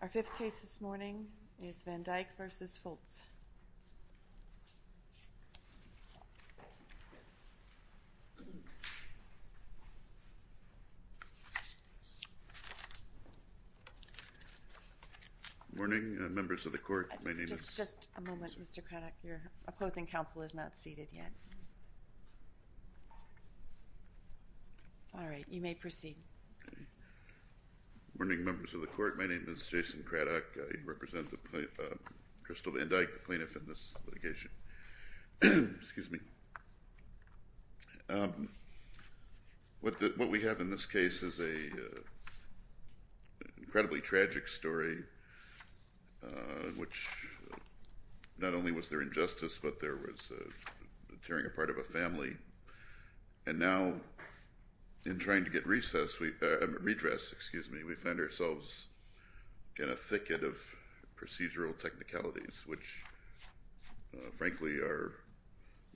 Our fifth case this morning is Van Dyke v. Fultz. Good morning, members of the court. My name is... Just a moment, Mr. Craddock. Your opposing counsel is not seated yet. All right, you may proceed. Good morning, members of the court. My name is Jason Craddock. I represent Christel Van Dyke, the plaintiff in this litigation. Excuse me. What we have in this case is an incredibly tragic story, in which not only was there injustice, but there was tearing apart of a family. And now, in trying to get redress, we find ourselves in a thicket of procedural technicalities, which, frankly, are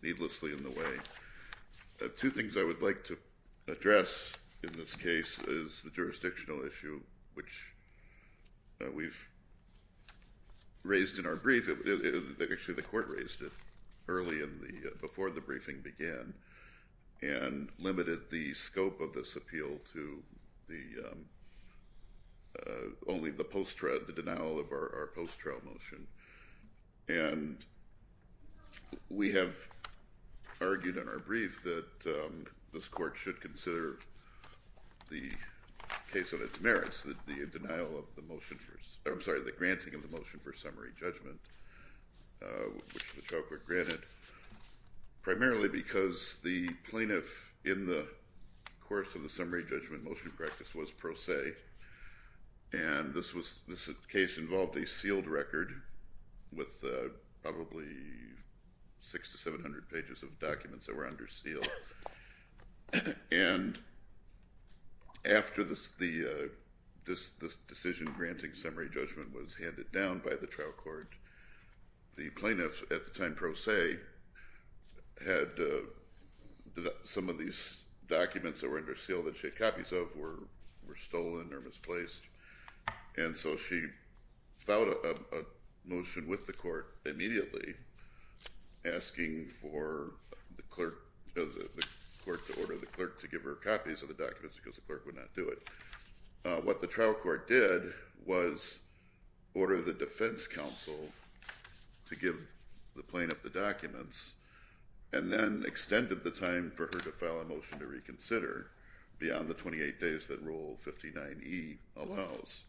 needlessly in the way. Two things I would like to address in this case is the jurisdictional issue, which we've raised in our brief. Actually, the court raised it early, before the briefing began, and limited the scope of this appeal to only the post-trial, the denial of our post-trial motion. And we have argued in our brief that this court should consider the case of its merits, the denial of the motion for... I'm sorry, the granting of the motion for summary judgment, which the trial court granted, primarily because the plaintiff, in the course of the summary judgment motion practice, was pro se. And this case involved a sealed record with probably 600 to 700 pages of documents that were under seal. And after this decision granting summary judgment was handed down by the trial court, the plaintiff, at the time pro se, had some of these documents that were under seal, that she had copies of, were stolen or misplaced. And so she filed a motion with the court immediately, asking for the court to order the clerk to give her copies of the documents, because the clerk would not do it. What the trial court did was order the defense counsel to give the plaintiff the documents, and then extended the time for her to file a motion to reconsider beyond the 28 days that Rule 59E allows.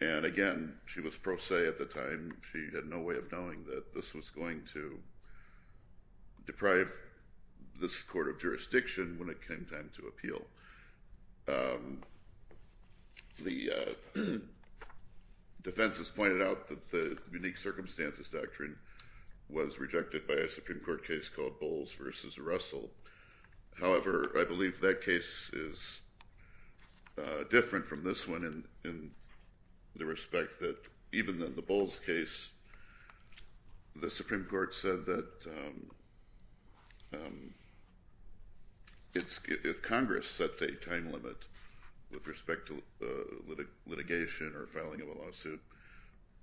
And again, she was pro se at the time. She had no way of knowing that this was going to deprive this court of jurisdiction when it came time to appeal. The defense has pointed out that the Unique Circumstances Doctrine was rejected by a Supreme Court case called Bowles v. Russell. However, I believe that case is different from this one in the respect that, even in the Bowles case, the Supreme Court said that if Congress sets a time limit with respect to litigation or filing of a lawsuit,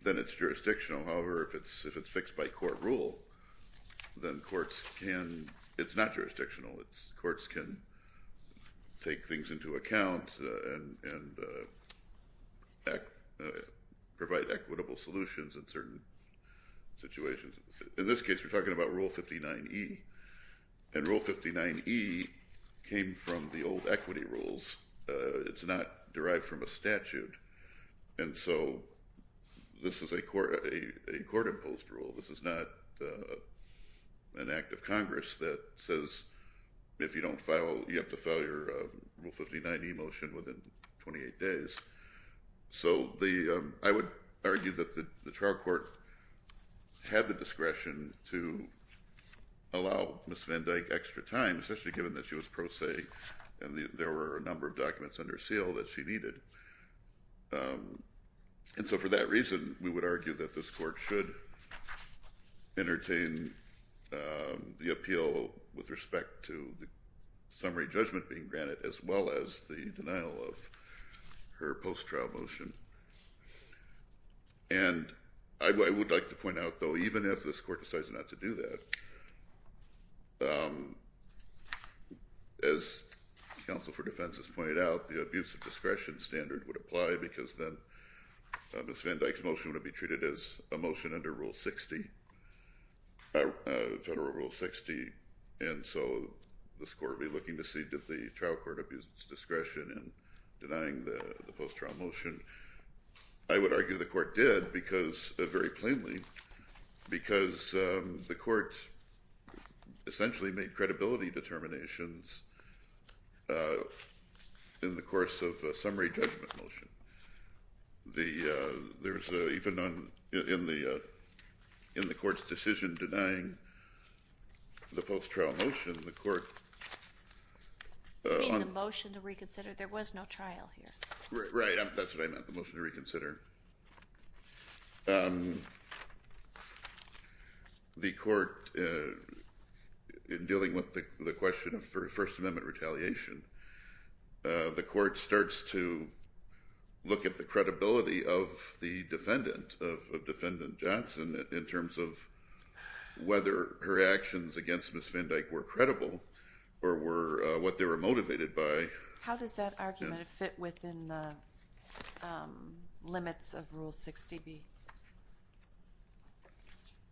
then it's jurisdictional. However, if it's fixed by court rule, then courts can—it's not jurisdictional. Courts can take things into account and provide equitable solutions in certain situations. In this case, we're talking about Rule 59E, and Rule 59E came from the old equity rules. It's not derived from a statute, and so this is a court-imposed rule. This is not an act of Congress that says if you don't file—you have to file your Rule 59E motion within 28 days. So I would argue that the trial court had the discretion to allow Ms. Van Dyke extra time, especially given that she was pro se and there were a number of documents under seal that she needed. And so for that reason, we would argue that this court should entertain the appeal with respect to the summary judgment being granted, as well as the denial of her post-trial motion. And I would like to point out, though, even if this court decides not to do that, as counsel for defense has pointed out, the abuse of discretion standard would apply because then Ms. Van Dyke's motion would be treated as a motion under Rule 60, federal Rule 60. And so this court would be looking to see did the trial court abuse its discretion in denying the post-trial motion. I would argue the court did very plainly because the court essentially made credibility determinations in the course of a summary judgment motion. Even in the court's decision denying the post-trial motion, the court— In the motion to reconsider, there was no trial here. Right. That's what I meant, the motion to reconsider. The court, in dealing with the question of First Amendment retaliation, the court starts to look at the credibility of the defendant, of Defendant Johnson, in terms of whether her actions against Ms. Van Dyke were credible or what they were motivated by. How does that argument fit within the limits of Rule 60B?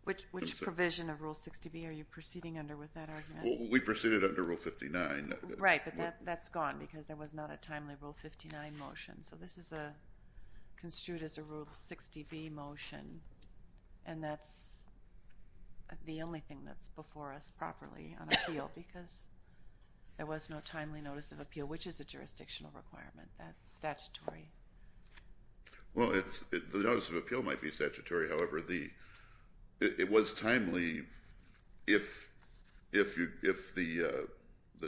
Which provision of Rule 60B are you proceeding under with that argument? We proceeded under Rule 59. Right, but that's gone because there was not a timely Rule 59 motion. So this is construed as a Rule 60B motion, and that's the only thing that's before us properly on appeal because there was no timely notice of appeal, which is a jurisdictional requirement. That's statutory. Well, the notice of appeal might be statutory. However, it was timely if the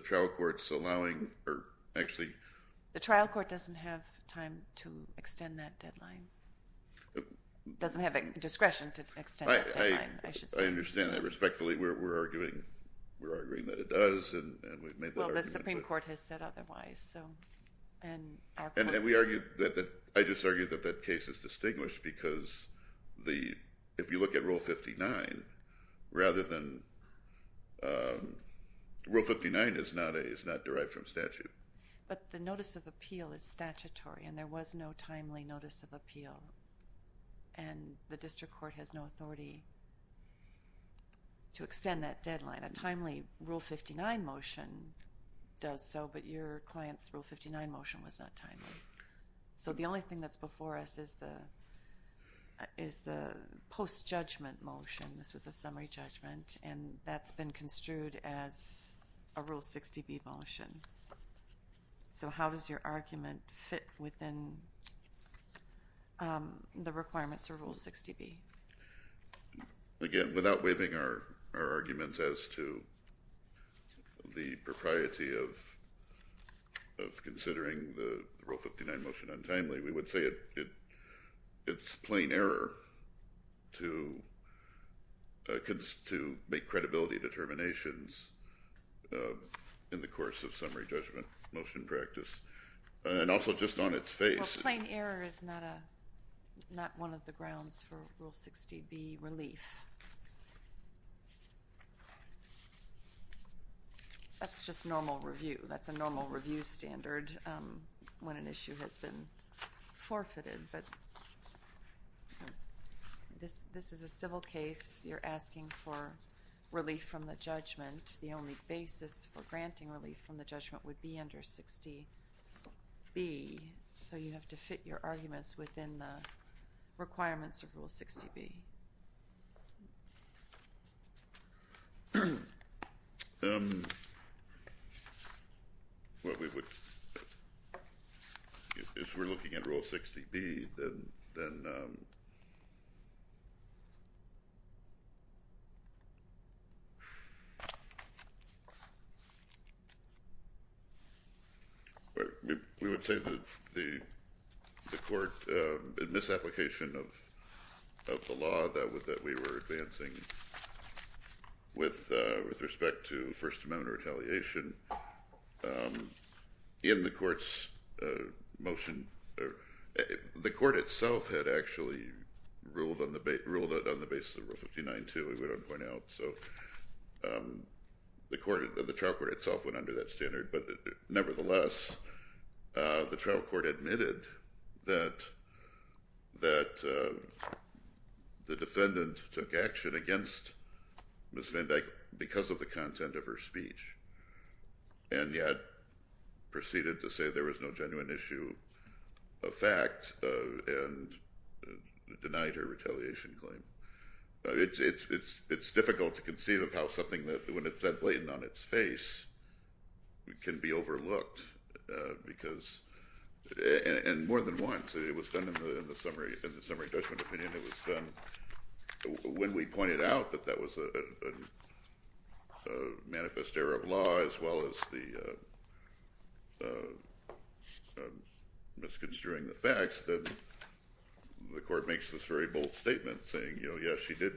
trial court's allowing— The trial court doesn't have time to extend that deadline. It doesn't have discretion to extend that deadline, I should say. I understand that. Respectfully, we're arguing that it does, and we've made that argument. Well, the Supreme Court has said otherwise. I just argue that that case is distinguished because if you look at Rule 59, Rule 59 is not derived from statute. But the notice of appeal is statutory, and there was no timely notice of appeal, and the district court has no authority to extend that deadline. A timely Rule 59 motion does so, but your client's Rule 59 motion was not timely. So the only thing that's before us is the post-judgment motion. This was a summary judgment, and that's been construed as a Rule 60B motion. So how does your argument fit within the requirements for Rule 60B? Again, without waiving our arguments as to the propriety of considering the Rule 59 motion untimely, we would say it's plain error to make credibility determinations in the course of summary judgment motion practice, and also just on its face. Well, plain error is not one of the grounds for Rule 60B relief. That's just normal review. That's a normal review standard when an issue has been forfeited. But this is a civil case. You're asking for relief from the judgment. The only basis for granting relief from the judgment would be under 60B, so you have to fit your arguments within the requirements of Rule 60B. If we're looking at Rule 60B, then... We would say that the court, in misapplication of the law that we were advancing with respect to First Amendment retaliation, in the court's motion, the court itself had actually ruled it on the basis of Rule 59 too, so the trial court itself went under that standard. But nevertheless, the trial court admitted that the defendant took action against Ms. Van Dyck because of the content of her speech, and yet proceeded to say there was no genuine issue of fact and denied her retaliation claim. It's difficult to conceive of how something that, when it's that blatant on its face, can be overlooked. And more than once, it was done in the summary judgment opinion. When we pointed out that that was a manifest error of law, as well as the misconstruing the facts, the court makes this very bold statement saying, you know, yes, she did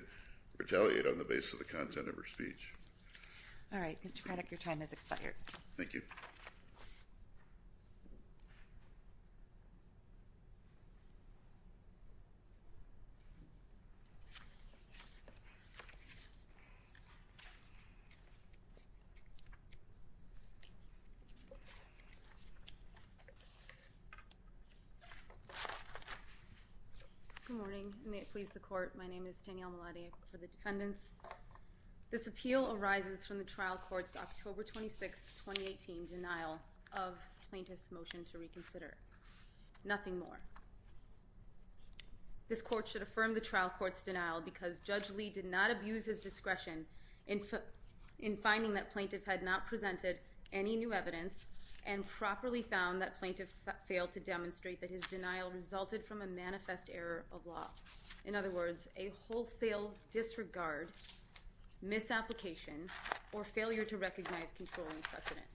retaliate on the basis of the content of her speech. All right. Mr. Prattuck, your time has expired. Thank you. Good morning. May it please the court, my name is Danielle Malady, I work for the defendants. This appeal arises from the trial court's October 26, 2018, denial of plaintiff's motion to reconsider. Nothing more. This court should affirm the trial court's denial because Judge Lee did not abuse his discretion in finding that plaintiff had not presented any new evidence and properly found that plaintiff failed to demonstrate that his denial resulted from a manifest error of law. In other words, a wholesale disregard, misapplication, or failure to recognize controlling precedent.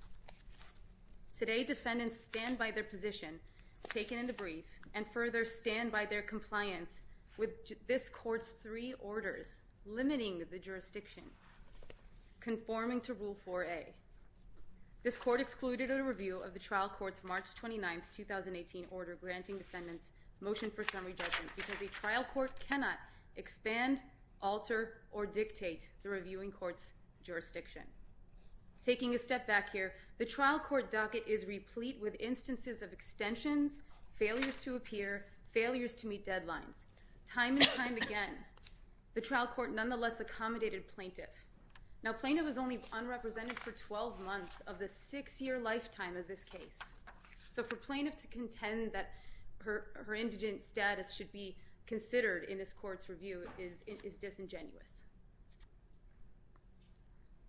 Today, defendants stand by their position taken in the brief and further stand by their compliance with this court's three orders limiting the jurisdiction conforming to Rule 4A. This court excluded a review of the trial court's March 29, 2018 order granting defendants motion for summary judgment because a trial court cannot expand, alter, or dictate the reviewing court's jurisdiction. Taking a step back here, the trial court docket is replete with instances of extensions, failures to appear, failures to meet deadlines. Time and time again, the trial court nonetheless accommodated plaintiff. Now, plaintiff is only unrepresented for 12 months of the six-year lifetime of this case. So for plaintiff to contend that her indigent status should be considered in this court's review is disingenuous.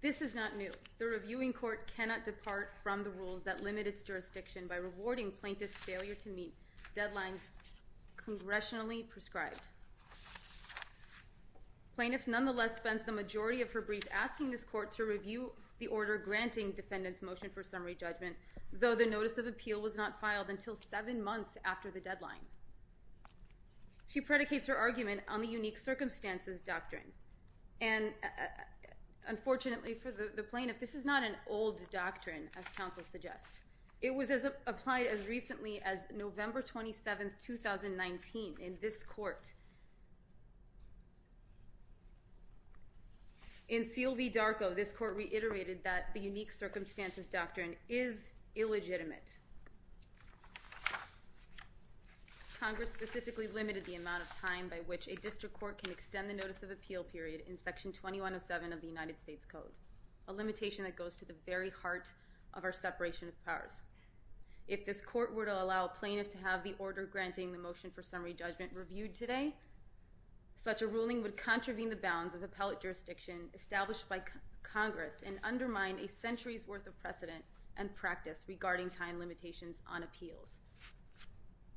This is not new. The reviewing court cannot depart from the rules that limit its jurisdiction by rewarding plaintiff's failure to meet deadlines congressionally prescribed. Plaintiff nonetheless spends the majority of her brief asking this court to review the order granting defendants motion for summary judgment, though the notice of appeal was not filed until seven months after the deadline. She predicates her argument on the unique circumstances doctrine. And unfortunately for the plaintiff, this is not an old doctrine, as counsel suggests. It was applied as recently as November 27, 2019 in this court. In CLV Darko, this court reiterated that the unique circumstances doctrine is illegitimate. Congress specifically limited the amount of time by which a district court can extend the notice of appeal period in Section 2107 of the United States Code, a limitation that goes to the very heart of our separation of powers. If this court were to allow plaintiff to have the order granting the motion for summary judgment reviewed today, such a ruling would contravene the bounds of appellate jurisdiction established by Congress and undermine a century's worth of precedent and practice regarding time limitations on appeals.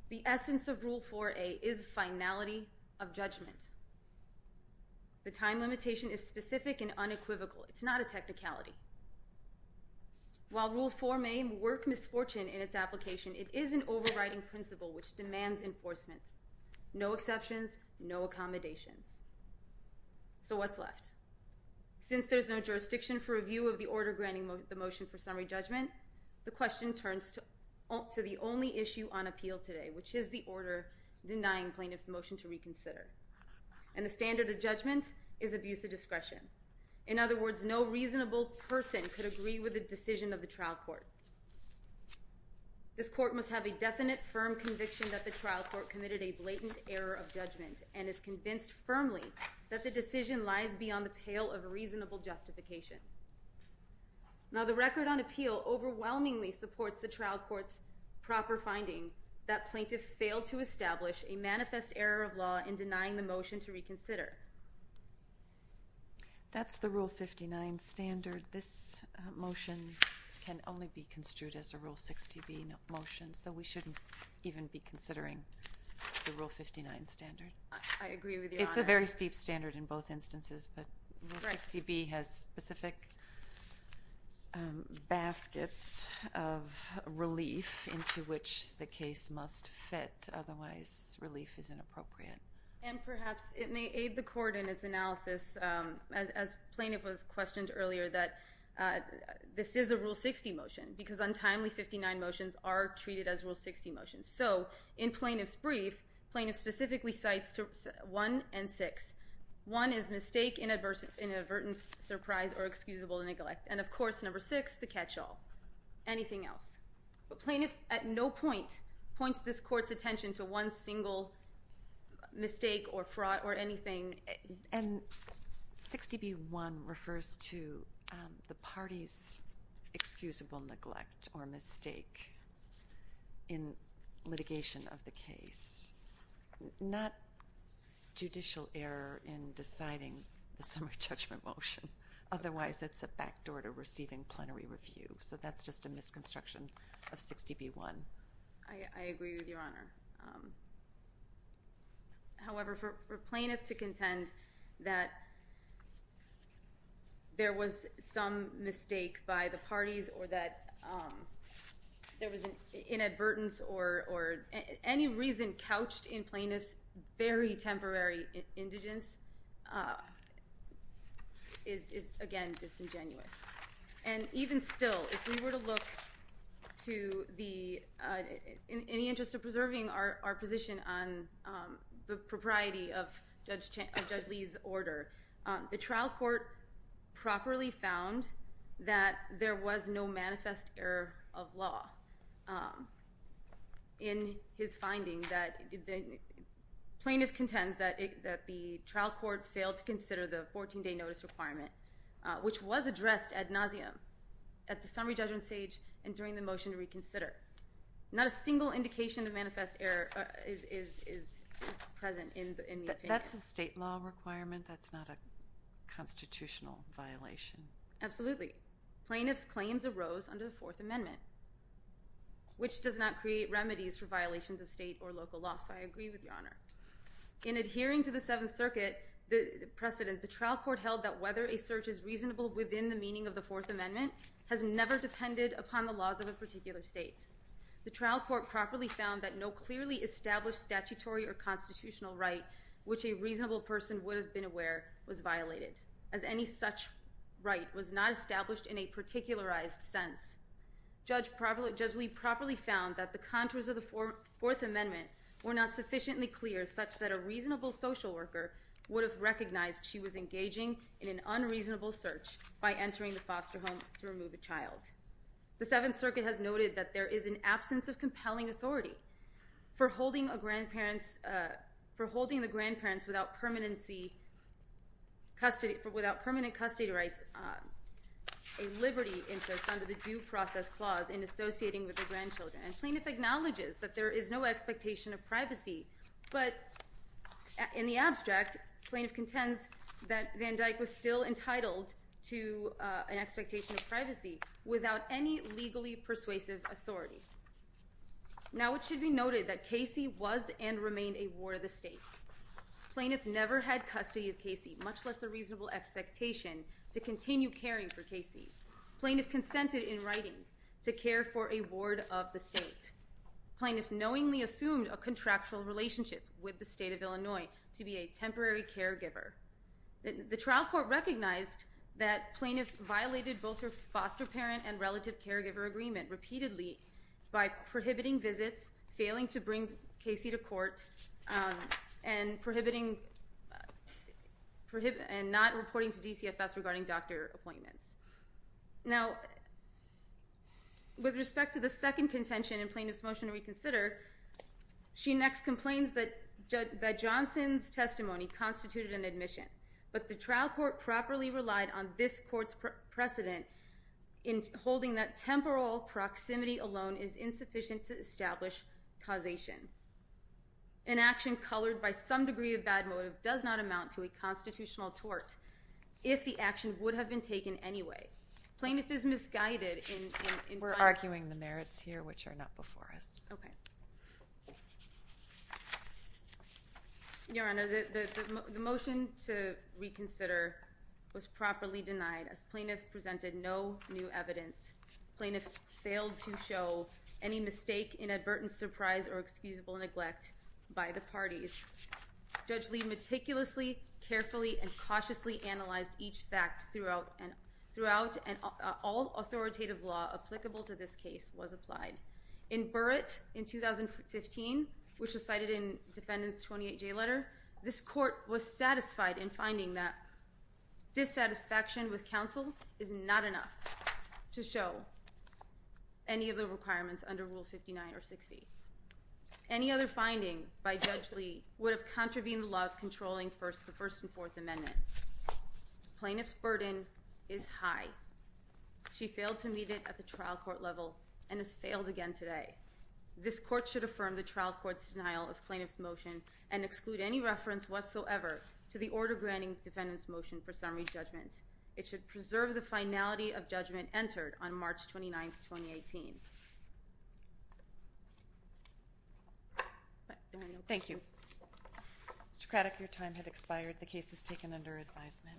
The essence of Rule 4a is finality of judgment. The time limitation is specific and unequivocal. It's not a technicality. While Rule 4a may work misfortune in its application, it is an overriding principle which demands enforcement. No exceptions, no accommodations. So what's left? Since there's no jurisdiction for review of the order granting the motion for summary judgment, the question turns to the only issue on appeal today, which is the order denying plaintiff's motion to reconsider. And the standard of judgment is abuse of discretion. In other words, no reasonable person could agree with the decision of the trial court. This court must have a definite, firm conviction that the trial court committed a blatant error of judgment and is convinced firmly that the decision lies beyond the pale of reasonable justification. Now, the record on appeal overwhelmingly supports the trial court's proper finding that plaintiff failed to establish a manifest error of law in denying the motion to reconsider. That's the Rule 59 standard. This motion can only be construed as a Rule 60B motion, so we shouldn't even be considering the Rule 59 standard. It's a very steep standard in both instances, but Rule 60B has specific baskets of relief into which the case must fit. Otherwise, relief is inappropriate. And perhaps it may aid the court in its analysis, as plaintiff was questioned earlier, that this is a Rule 60 motion because untimely 59 motions are treated as Rule 60 motions. So in plaintiff's brief, plaintiff specifically cites 1 and 6. 1 is mistake, inadvertence, surprise, or excusable neglect. And, of course, number 6, the catch-all, anything else. But plaintiff at no point points this court's attention to one single mistake or fraud or anything. And 60B1 refers to the party's excusable neglect or mistake in litigation of the case, not judicial error in deciding the summary judgment motion. Otherwise, it's a backdoor to receiving plenary review. So that's just a misconstruction of 60B1. I agree with Your Honor. However, for plaintiff to contend that there was some mistake by the parties or that there was inadvertence or any reason couched in plaintiff's very temporary indigence is, again, disingenuous. And even still, if we were to look to any interest of preserving our position on the propriety of Judge Lee's order, the trial court properly found that there was no manifest error of law in his finding that plaintiff contends that the trial court failed to consider the 14-day notice requirement, which was addressed ad nauseum at the summary judgment stage and during the motion to reconsider. Not a single indication of manifest error is present in the opinion. That's a state law requirement. That's not a constitutional violation. Absolutely. Plaintiff's claims arose under the Fourth Amendment, which does not create remedies for violations of state or local law. So I agree with Your Honor. In adhering to the Seventh Circuit precedent, the trial court held that whether a search is reasonable within the meaning of the Fourth Amendment has never depended upon the laws of a particular state. The trial court properly found that no clearly established statutory or constitutional right which a reasonable person would have been aware was violated, as any such right was not established in a particularized sense. Judge Lee properly found that the contours of the Fourth Amendment were not sufficiently clear such that a reasonable social worker would have recognized she was engaging in an unreasonable search by entering the foster home to remove a child. The Seventh Circuit has noted that there is an absence of compelling authority for holding the grandparents without permanent custody rights a liberty interest under the Due Process Clause in associating with their grandchildren. And plaintiff acknowledges that there is no expectation of privacy, but in the abstract, plaintiff contends that Van Dyck was still entitled to an expectation of privacy without any legally persuasive authority. Now, it should be noted that Casey was and remained a ward of the state. Plaintiff never had custody of Casey, much less a reasonable expectation to continue caring for Casey. Plaintiff consented in writing to care for a ward of the state. Plaintiff knowingly assumed a contractual relationship with the State of Illinois to be a temporary caregiver. The trial court recognized that plaintiff violated both her foster parent and relative caregiver agreement repeatedly by prohibiting visits, failing to bring Casey to court, and not reporting to DCFS regarding doctor appointments. Now, with respect to the second contention in Plaintiff's Motion to Reconsider, she next complains that Johnson's testimony constituted an admission, but the trial court properly relied on this court's precedent in holding that temporal proximity alone is insufficient to establish causation. An action colored by some degree of bad motive does not amount to a constitutional tort if the action would have been taken anyway. Plaintiff is misguided in finding... We're arguing the merits here, which are not before us. Okay. Your Honor, the Motion to Reconsider was properly denied as plaintiff presented no new evidence. Plaintiff failed to show any mistake, inadvertent surprise, or excusable neglect by the parties. Judge Lee meticulously, carefully, and cautiously analyzed each fact throughout, and all authoritative law applicable to this case was applied. In Burrett in 2015, which was cited in Defendant's 28-J letter, this court was satisfied in finding that dissatisfaction with counsel is not enough to show any of the requirements under Rule 59 or 60. Any other finding by Judge Lee would have contravened the laws controlling the First and Fourth Amendment. Plaintiff's burden is high. She failed to meet it at the trial court level and has failed again today. This court should affirm the trial court's denial of plaintiff's motion and exclude any reference whatsoever to the order granting defendant's motion for summary judgment. It should preserve the finality of judgment entered on March 29, 2018. Thank you. Mr. Craddock, your time has expired. The case is taken under advisement.